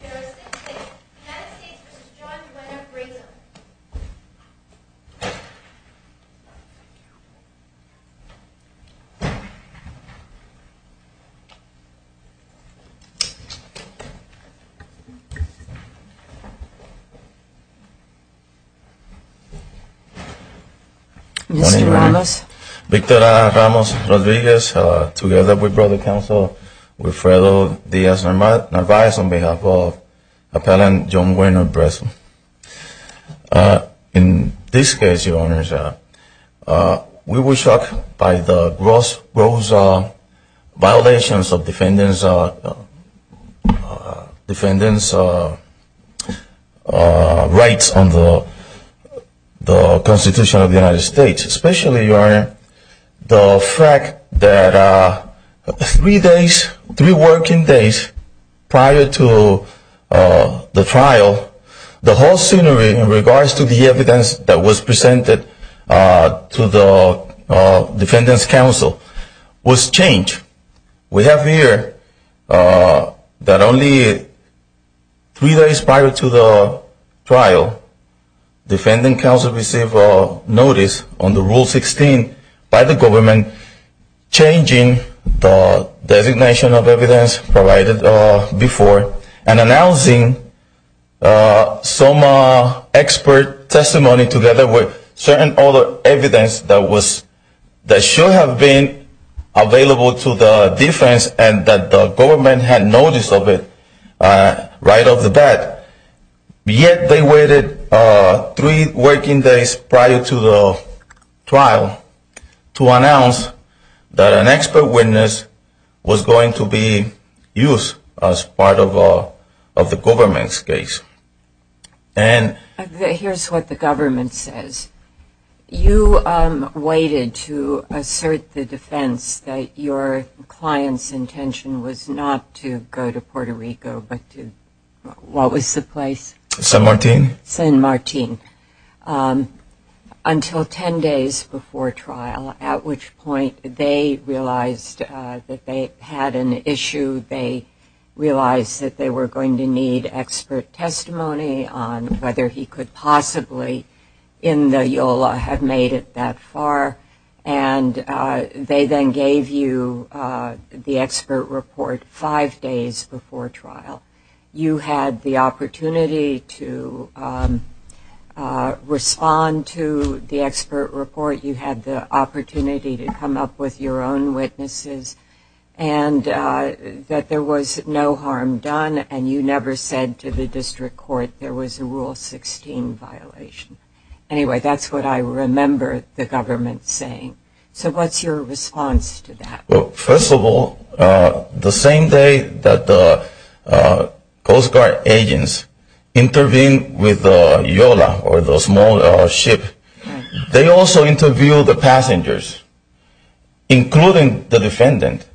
United States v. John Buenaventura. Mr. Ramos. Victor Ramos Rodriguez. In this case, we were shocked by the gross violations of defendants' rights under the three working days prior to the trial, the whole scenery in regards to the evidence that was presented to the defendants' counsel was changed. We have here that only three days prior to the trial, defendants' counsel received a notice on the Rule 16 by the government changing the designation of evidence provided before and announcing some expert testimony together with certain other evidence that should have been available to the defense and that the government had noticed of it right off the bat. Yet they waited three working days prior to the trial to announce that an expert witness was going to be used as part of the government's case. Here's what the government says. You waited to assert the defense that your client's intention was not to go to Puerto Rico, but to what was the place? San Martin. San Martin. Until ten days before trial, at which point they realized that they had an issue. They realized that they were going to need expert testimony on whether he could possibly, in the EOLA, have made it that far, and they then gave you the expert report five days before trial. You had the opportunity to respond to the expert report. You had the opportunity to come up with your own witnesses, and that there was no harm done, and you never said to the district court there was a Rule 16 violation. Anyway, that's what I remember the government saying. So what's your response to that? Well, first of all, the same day that the Coast Guard agents intervened with EOLA or the small ship, they also interviewed the passengers, including the defendant.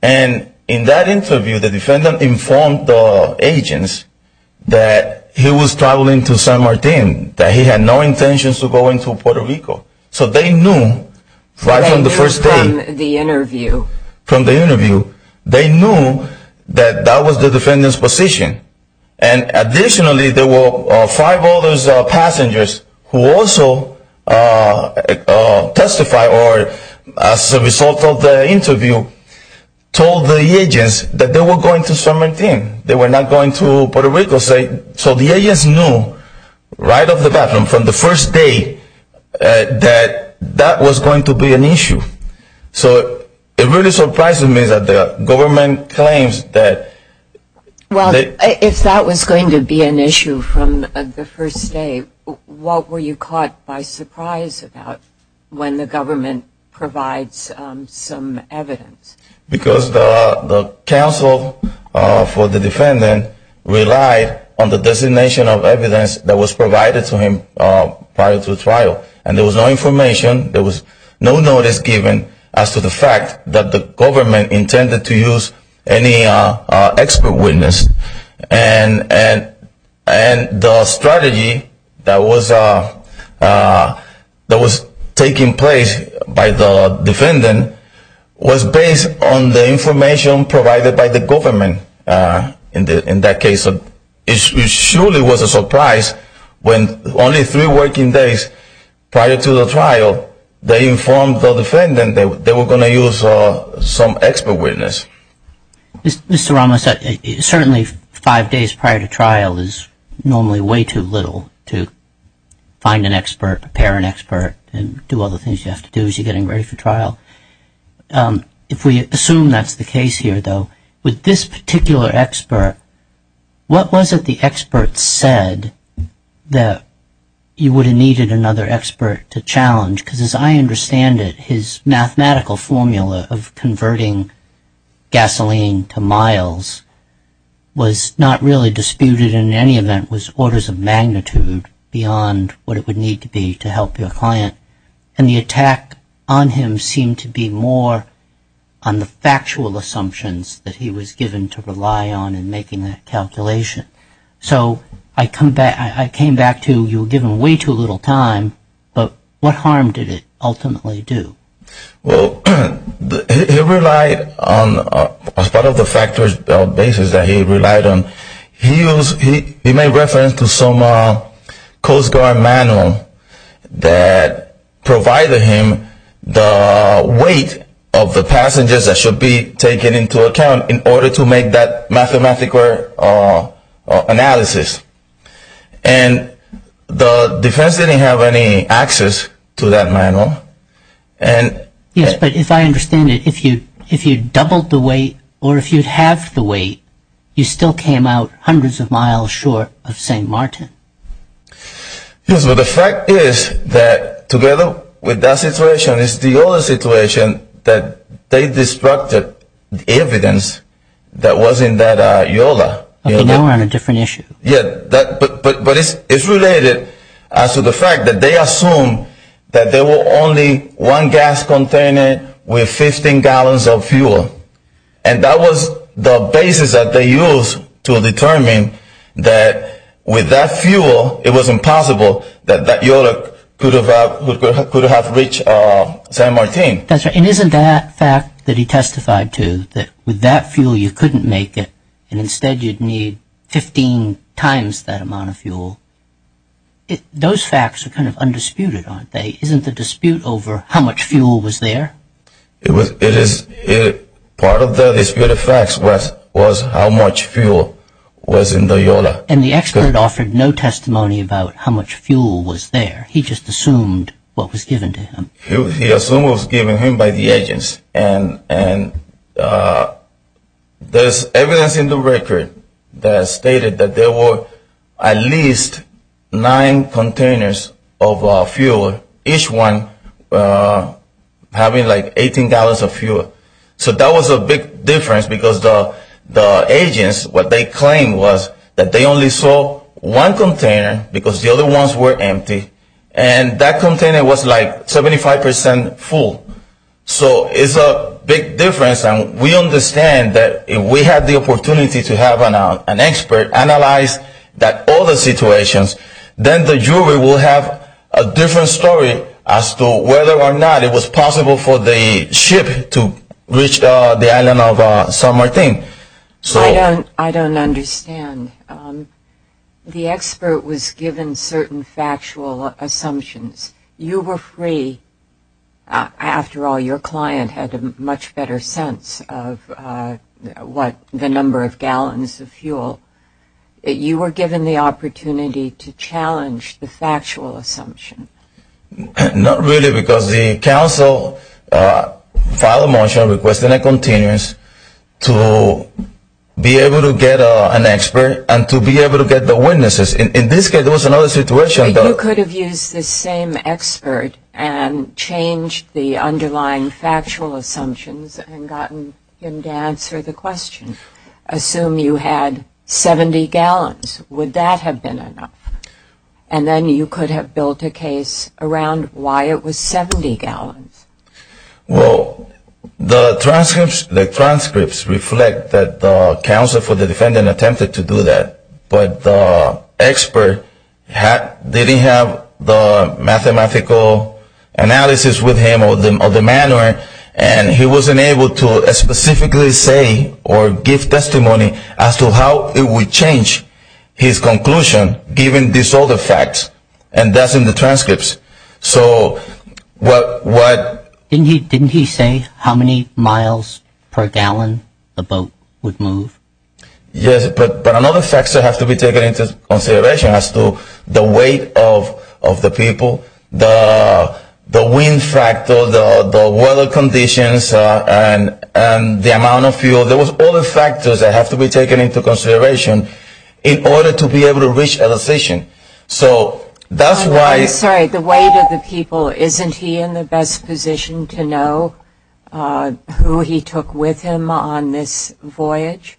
And in that interview, the defendant informed the agents that he was traveling to San Martin, that he had no intentions of going to Puerto Rico. So they knew right from the first day. They knew from the interview. From the interview. They knew that that was the defendant's position. And additionally, there were five other passengers who also testified, or as a result of the interview, told the agents that they were going to San Martin. They were not going to Puerto Rico. So the agents knew right off the bat from the first day that that was going to be an issue. So it really surprised me that the government claims that. Well, if that was going to be an issue from the first day, what were you caught by surprise about when the government provides some evidence? Because the counsel for the defendant relied on the designation of evidence that was provided to him prior to the trial. And there was no information. There was no notice given as to the fact that the government intended to use any expert witness. And the strategy that was taking place by the defendant was based on the information provided by the government. In that case, it surely was a surprise when only three working days prior to the trial, they informed the defendant they were going to use some expert witness. Mr. Ramos, certainly five days prior to trial is normally way too little to find an expert, prepare an expert, and do all the things you have to do as you're getting ready for trial. If we assume that's the case here, though, with this particular expert, what was it the expert said that you would have needed another expert to challenge? Because as I understand it, his mathematical formula of converting gasoline to miles was not really disputed in any event. It was orders of magnitude beyond what it would need to be to help your client. And the attack on him seemed to be more on the factual assumptions that he was given to rely on in making that calculation. So I came back to you were giving way too little time, but what harm did it ultimately do? Well, he relied on part of the factual basis that he relied on. He made reference to some Coast Guard manual that provided him the weight of the passengers that should be taken into account in order to make that mathematical analysis. And the defense didn't have any access to that manual. Yes, but if I understand it, if you doubled the weight or if you halved the weight, you still came out hundreds of miles short of St. Martin. Yes, but the fact is that together with that situation, it's the other situation that they destructed the evidence that was in that EOLA. Okay, now we're on a different issue. Yes, but it's related to the fact that they assumed that there was only one gas container with 15 gallons of fuel. And that was the basis that they used to determine that with that fuel, it was impossible that that EOLA could have reached St. Martin. And isn't that fact that he testified to, that with that fuel you couldn't make it, and instead you'd need 15 times that amount of fuel, those facts are kind of undisputed, aren't they? Isn't the dispute over how much fuel was there? Part of the disputed facts was how much fuel was in the EOLA. And the expert offered no testimony about how much fuel was there. He just assumed what was given to him. He assumed what was given to him by the agents. And there's evidence in the record that stated that there were at least nine containers of fuel, each one having like 18 gallons of fuel. So that was a big difference because the agents, what they claimed was that they only saw one container because the other ones were empty, and that container was like 75% full. So it's a big difference. And we understand that if we had the opportunity to have an expert analyze all the situations, then the jury will have a different story as to whether or not it was possible for the ship to reach the island of San Martin. I don't understand. The expert was given certain factual assumptions. You were free. After all, your client had a much better sense of what the number of gallons of fuel. You were given the opportunity to challenge the factual assumption. Not really because the counsel filed a motion requesting a continuance to be able to get an expert and to be able to get the witnesses. In this case, there was another situation. You could have used the same expert and changed the underlying factual assumptions and gotten him to answer the question. Assume you had 70 gallons. Would that have been enough? And then you could have built a case around why it was 70 gallons. Well, the transcripts reflect that the counsel for the defendant attempted to do that, but the expert didn't have the mathematical analysis with him or the manual, and he wasn't able to specifically say or give testimony as to how it would change his conclusion, given these other facts, and that's in the transcripts. So what... Didn't he say how many miles per gallon the boat would move? Yes, but another factor has to be taken into consideration as to the weight of the people, the wind factor, the weather conditions, and the amount of fuel. There was other factors that have to be taken into consideration in order to be able to reach a decision. So that's why... I'm sorry, the weight of the people, isn't he in the best position to know who he took with him on this voyage?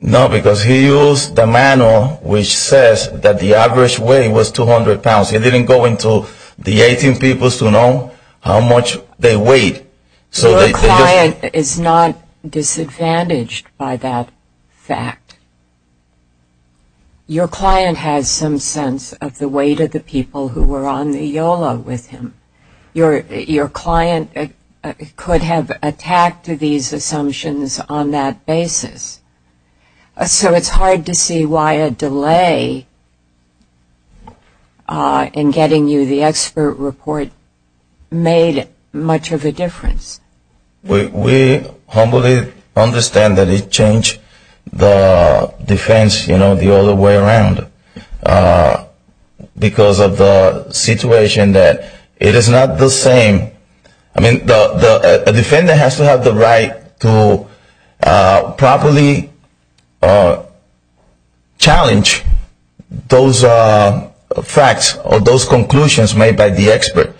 No, because he used the manual which says that the average weight was 200 pounds. He didn't go into the 18 peoples to know how much they weighed. Your client is not disadvantaged by that fact. Your client has some sense of the weight of the people who were on the YOLA with him. Your client could have attacked these assumptions on that basis. So it's hard to see why a delay in getting you the expert report made much of a difference. We humbly understand that it changed the defense the other way around because of the situation that it is not the same. A defendant has to have the right to properly challenge those facts or those conclusions made by the expert.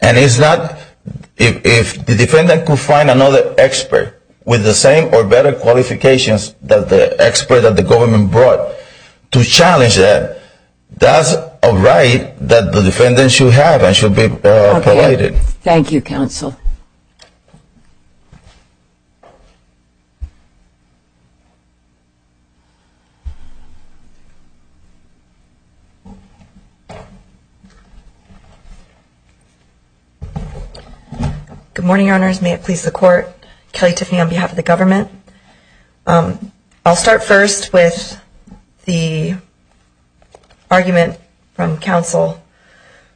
And if the defendant could find another expert with the same or better qualifications than the expert that the government brought to challenge that, that's a right that the defendant should have and should be provided. Thank you, counsel. Good morning, your honors. May it please the court. Kelly Tiffany on behalf of the government. I'll start first with the argument from counsel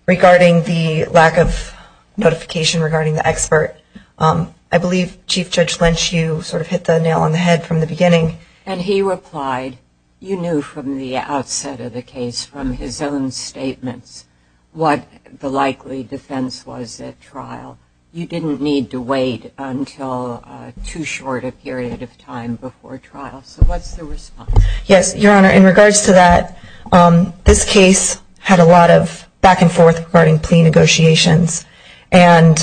regarding the lack of notification regarding the expert. I believe Chief Judge Lynch, you sort of hit the nail on the head from the beginning. And he replied, you knew from the outset of the case, from his own statements, what the likely defense was at trial. You didn't need to wait until too short a period of time before trial. So what's the response? Yes, your honor, in regards to that, this case had a lot of back and forth regarding plea negotiations. And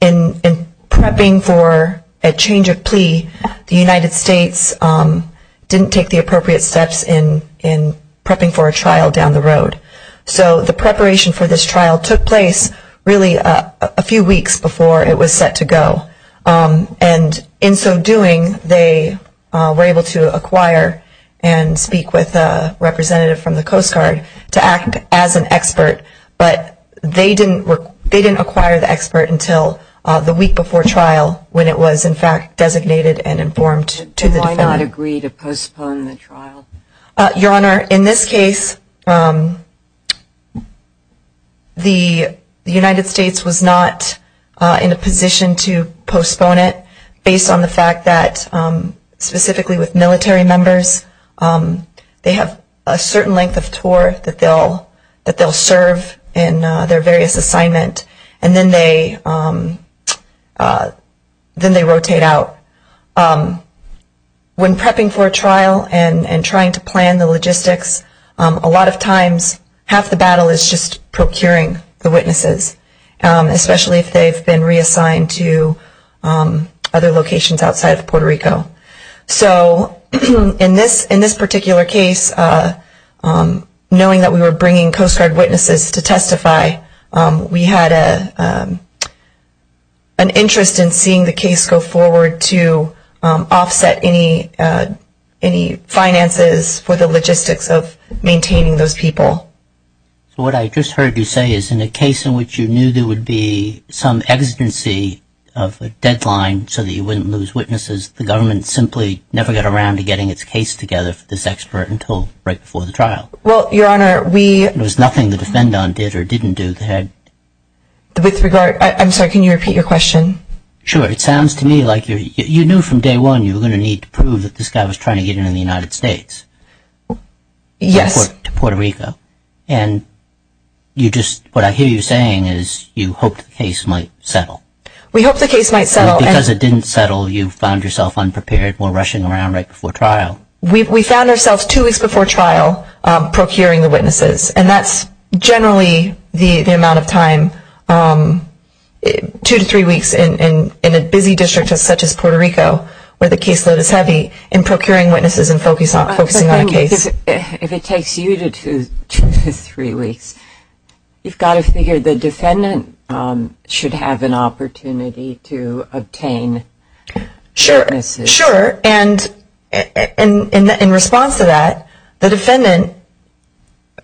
in prepping for a change of plea, the United States didn't take the appropriate steps in prepping for a trial down the road. So the preparation for this trial took place really a few weeks before it was set to go. And in so doing, they were able to acquire and speak with a representative from the Coast Guard to act as an expert. But they didn't acquire the expert until the week before trial when it was, in fact, designated and informed to the defendant. Why not agree to postpone the trial? Your honor, in this case, the United States was not in a position to postpone it based on the fact that, specifically with military members, they have a certain length of tour that they'll serve in their various assignment. And then they rotate out. When prepping for a trial and trying to plan the logistics, a lot of times half the battle is just procuring the witnesses, especially if they've been reassigned to other locations outside of Puerto Rico. So in this particular case, knowing that we were bringing Coast Guard witnesses to testify, we had an interest in seeing the case go forward to offset any finances for the logistics of maintaining those people. So what I just heard you say is in a case in which you knew there would be some exigency of a deadline so that you wouldn't lose witnesses, the government simply never got around to getting its case together for this expert until right before the trial. Well, your honor, we... There was nothing the defendant did or didn't do. With regard, I'm sorry, can you repeat your question? Sure. It sounds to me like you knew from day one you were going to need to prove that this guy was trying to get into the United States. Yes. To Puerto Rico. And you just, what I hear you saying is you hoped the case might settle. We hoped the case might settle. Because it didn't settle, you found yourself unprepared or rushing around right before trial. We found ourselves two weeks before trial procuring the witnesses. And that's generally the amount of time, two to three weeks in a busy district such as Puerto Rico, where the caseload is heavy, in procuring witnesses and focusing on a case. If it takes you two to three weeks, you've got to figure the defendant should have an opportunity to obtain witnesses. Sure. And in response to that, the defendant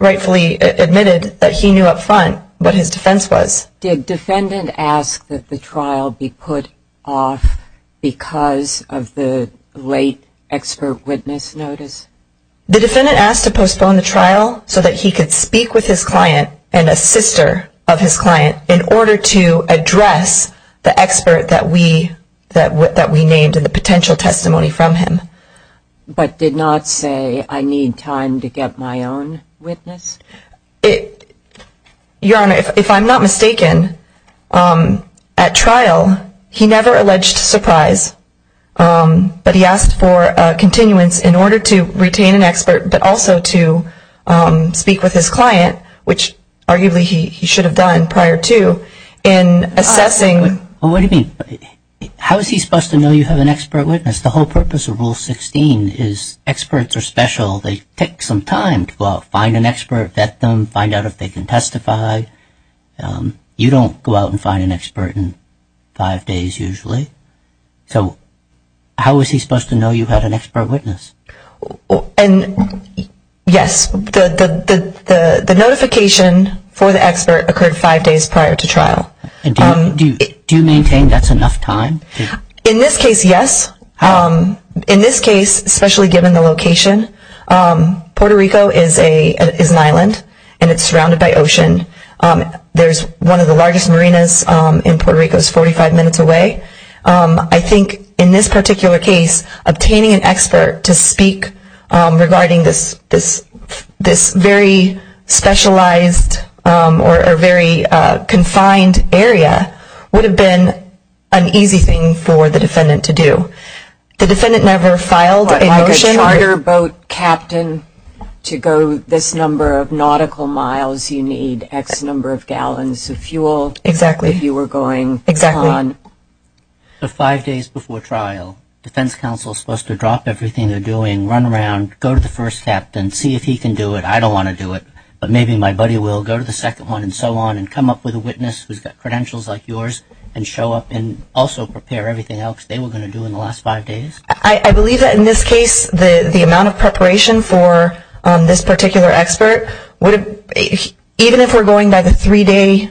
rightfully admitted that he knew up front what his defense was. Did defendant ask that the trial be put off because of the late expert witness notice? The defendant asked to postpone the trial so that he could speak with his client and a sister of his client in order to address the expert that we named and the potential testimony from him. But did not say I need time to get my own witness? Your Honor, if I'm not mistaken, at trial, he never alleged surprise. But he asked for continuance in order to retain an expert but also to speak with his client, which arguably he should have done prior to in assessing. What do you mean? How is he supposed to know you have an expert witness? The whole purpose of Rule 16 is experts are special. They take some time to go out, find an expert, vet them, find out if they can testify. You don't go out and find an expert in five days usually. So how is he supposed to know you've had an expert witness? Yes. The notification for the expert occurred five days prior to trial. Do you maintain that's enough time? In this case, yes. In this case, especially given the location, Puerto Rico is an island and it's surrounded by ocean. There's one of the largest marinas in Puerto Rico is 45 minutes away. I think in this particular case, obtaining an expert to speak regarding this very specialized or very confined area would have been an easy thing for the defendant to do. The defendant never filed a motion. Like a charter boat captain to go this number of nautical miles, you need X number of gallons of fuel. Exactly. If you were going on. Exactly. So five days before trial, defense counsel is supposed to drop everything they're doing, run around, go to the first captain, see if he can do it. I don't want to do it, but maybe my buddy will. Go to the second one and so on and come up with a witness who's got credentials like yours and show up and also prepare everything else they were going to do in the last five days. I believe that in this case, the amount of preparation for this particular expert, even if we're going by the three-day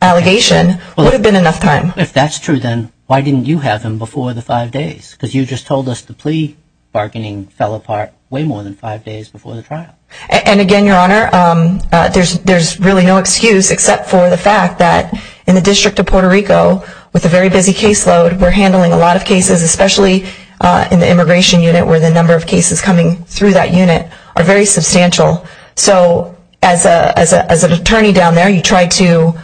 allegation, would have been enough time. If that's true, then why didn't you have him before the five days? Because you just told us the plea bargaining fell apart way more than five days before the trial. And again, Your Honor, there's really no excuse except for the fact that in the District of Puerto Rico, with a very busy caseload, we're handling a lot of cases, especially in the immigration unit where the number of cases coming through that unit are very substantial. So as an attorney down there, you try to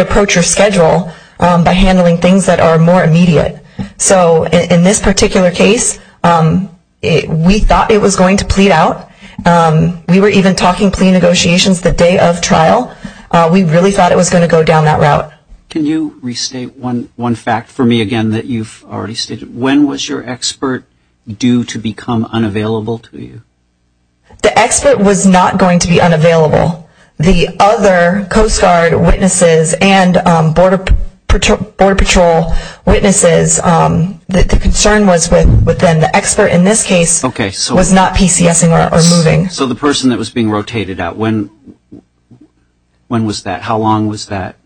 approach your schedule by handling things that are more immediate. So in this particular case, we thought it was going to plead out. We were even talking plea negotiations the day of trial. We really thought it was going to go down that route. Can you restate one fact for me again that you've already stated? When was your expert due to become unavailable to you? The expert was not going to be unavailable. The other Coast Guard witnesses and Border Patrol witnesses, the concern was with them. The expert in this case was not PCSing or moving. So the person that was being rotated out, when was that? How long was that?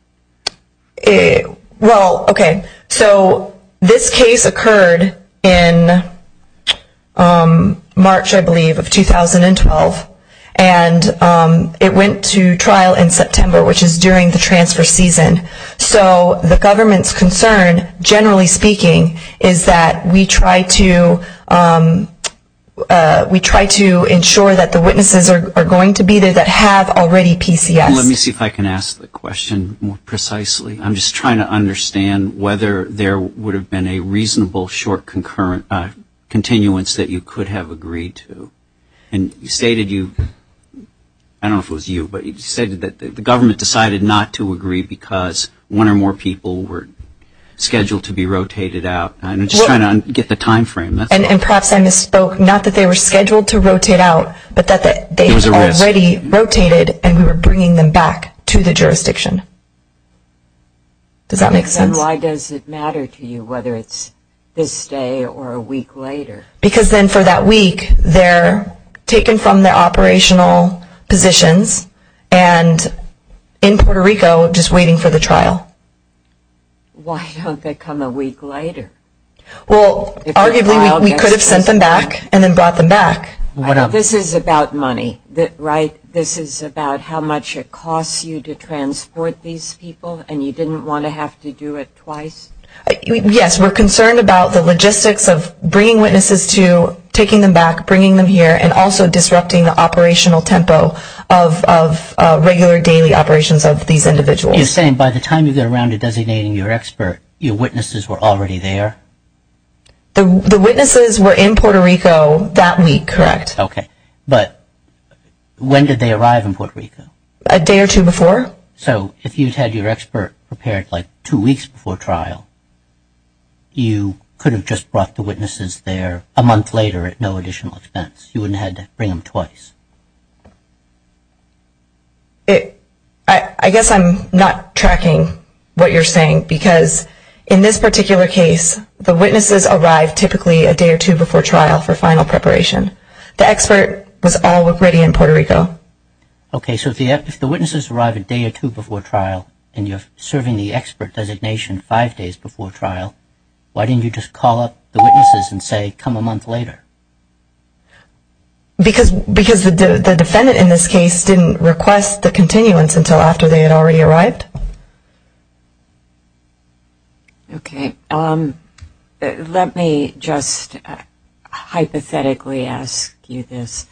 Well, okay, so this case occurred in March, I believe, of 2012. And it went to trial in September, which is during the transfer season. So the government's concern, generally speaking, is that we try to ensure that the witnesses are going to be there that have already PCSed. Let me see if I can ask the question more precisely. I'm just trying to understand whether there would have been a reasonable short continuance that you could have agreed to. And you stated you, I don't know if it was you, but you stated that the government decided not to agree because one or more people were scheduled to be rotated out. I'm just trying to get the time frame. And perhaps I misspoke. Not that they were scheduled to rotate out, but that they had already rotated and we were bringing them back to the jurisdiction. Does that make sense? Then why does it matter to you whether it's this day or a week later? Because then for that week they're taken from their operational positions and in Puerto Rico just waiting for the trial. Why don't they come a week later? Well, arguably we could have sent them back and then brought them back. This is about money, right? This is about how much it costs you to transport these people and you didn't want to have to do it twice? Yes, we're concerned about the logistics of bringing witnesses to, taking them back, bringing them here, and also disrupting the operational tempo of regular daily operations of these individuals. You're saying by the time you get around to designating your expert, your witnesses were already there? The witnesses were in Puerto Rico that week, correct. Okay. But when did they arrive in Puerto Rico? A day or two before. So if you'd had your expert prepared like two weeks before trial, you could have just brought the witnesses there a month later at no additional expense. You wouldn't have had to bring them twice. I guess I'm not tracking what you're saying because in this particular case, the witnesses arrived typically a day or two before trial for final preparation. The expert was already in Puerto Rico. Okay, so if the witnesses arrived a day or two before trial and you're serving the expert designation five days before trial, why didn't you just call up the witnesses and say come a month later? Because the defendant in this case didn't request the continuance until after they had already arrived. Okay. Let me just hypothetically ask you this.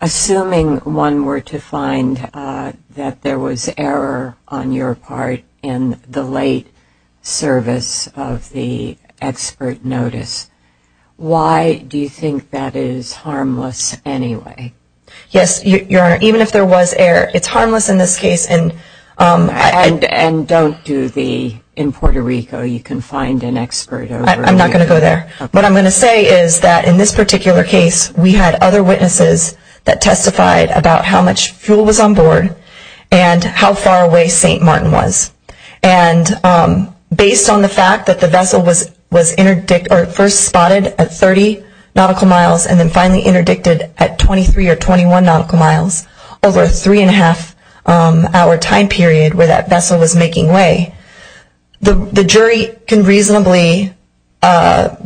Assuming one were to find that there was error on your part in the late service of the expert notice, why do you think that is harmless anyway? Yes, Your Honor, even if there was error, it's harmless in this case. And don't do the in Puerto Rico, you can find an expert over there. I'm not going to go there. What I'm going to say is that in this particular case, we had other witnesses that testified about how much fuel was on board and how far away St. Martin was. And based on the fact that the vessel was first spotted at 30 nautical miles and then finally interdicted at 23 or 21 nautical miles over a three-and-a-half-hour time period where that vessel was making way, the jury can reasonably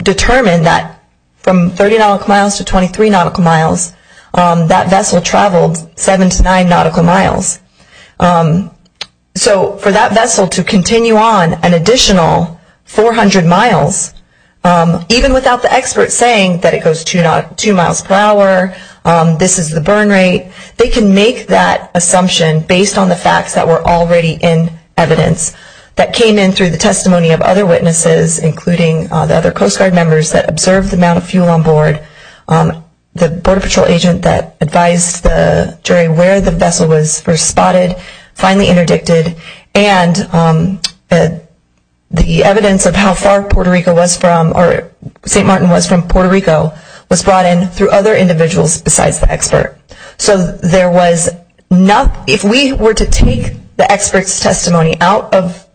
determine that from 30 nautical miles to 23 nautical miles, that vessel traveled seven to nine nautical miles. So for that vessel to continue on an additional 400 miles, even without the expert saying that it goes two miles per hour, this is the burn rate, they can make that assumption based on the facts that were already in evidence that came in through the testimony of other witnesses, including the other Coast Guard members that observed the amount of fuel on board, the Border Patrol agent that advised the jury where the vessel was first spotted, finally interdicted, and the evidence of how far Puerto Rico was from or St. Martin was from Puerto Rico was brought in through other individuals besides the expert. So there was not – if we were to take the expert's testimony out of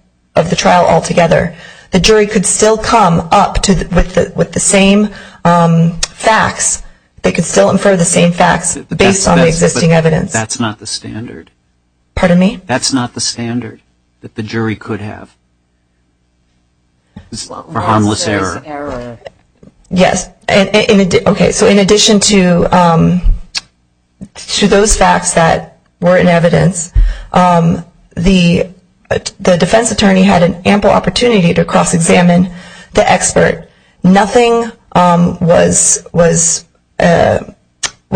the trial altogether, the jury could still come up with the same facts. They could still infer the same facts based on the existing evidence. But that's not the standard. Pardon me? That's not the standard that the jury could have for harmless error. Yes. Okay. So in addition to those facts that were in evidence, the defense attorney had an ample opportunity to cross-examine the expert. Nothing was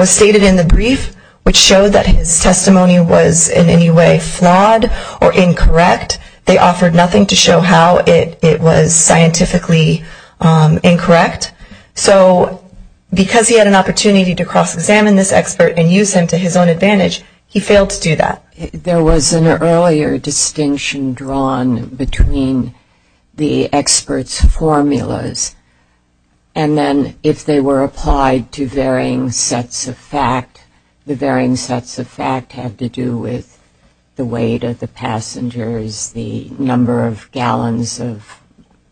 stated in the brief which showed that his testimony was in any way flawed or incorrect. They offered nothing to show how it was scientifically incorrect. So because he had an opportunity to cross-examine this expert and use him to his own advantage, he failed to do that. There was an earlier distinction drawn between the expert's formulas and then if they were applied to varying sets of fact. The varying sets of fact had to do with the weight of the passengers, the number of gallons of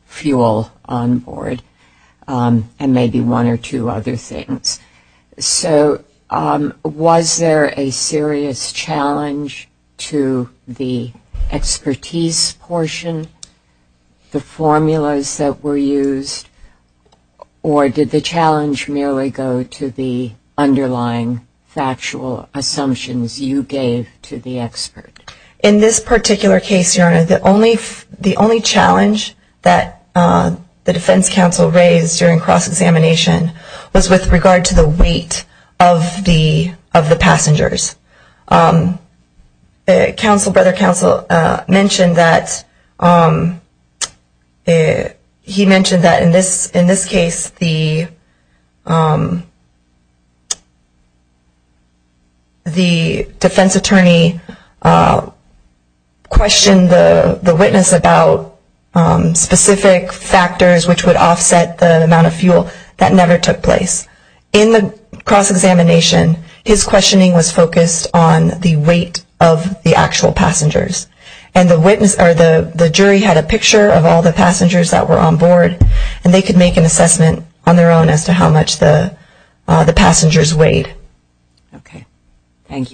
fuel on board, and maybe one or two other things. So was there a serious challenge to the expertise portion, the formulas that were used, or did the challenge merely go to the underlying factual assumptions you gave to the expert? In this particular case, Your Honor, the only challenge that the defense counsel raised during cross-examination was with regard to the weight of the passengers. Brother Counsel mentioned that in this case the defense attorney questioned the witness about specific factors which would offset the amount of fuel. That never took place. In the cross-examination, his questioning was focused on the weight of the actual passengers. And the jury had a picture of all the passengers that were on board, and they could make an assessment on their own as to how much the passengers weighed. Okay. Thank you.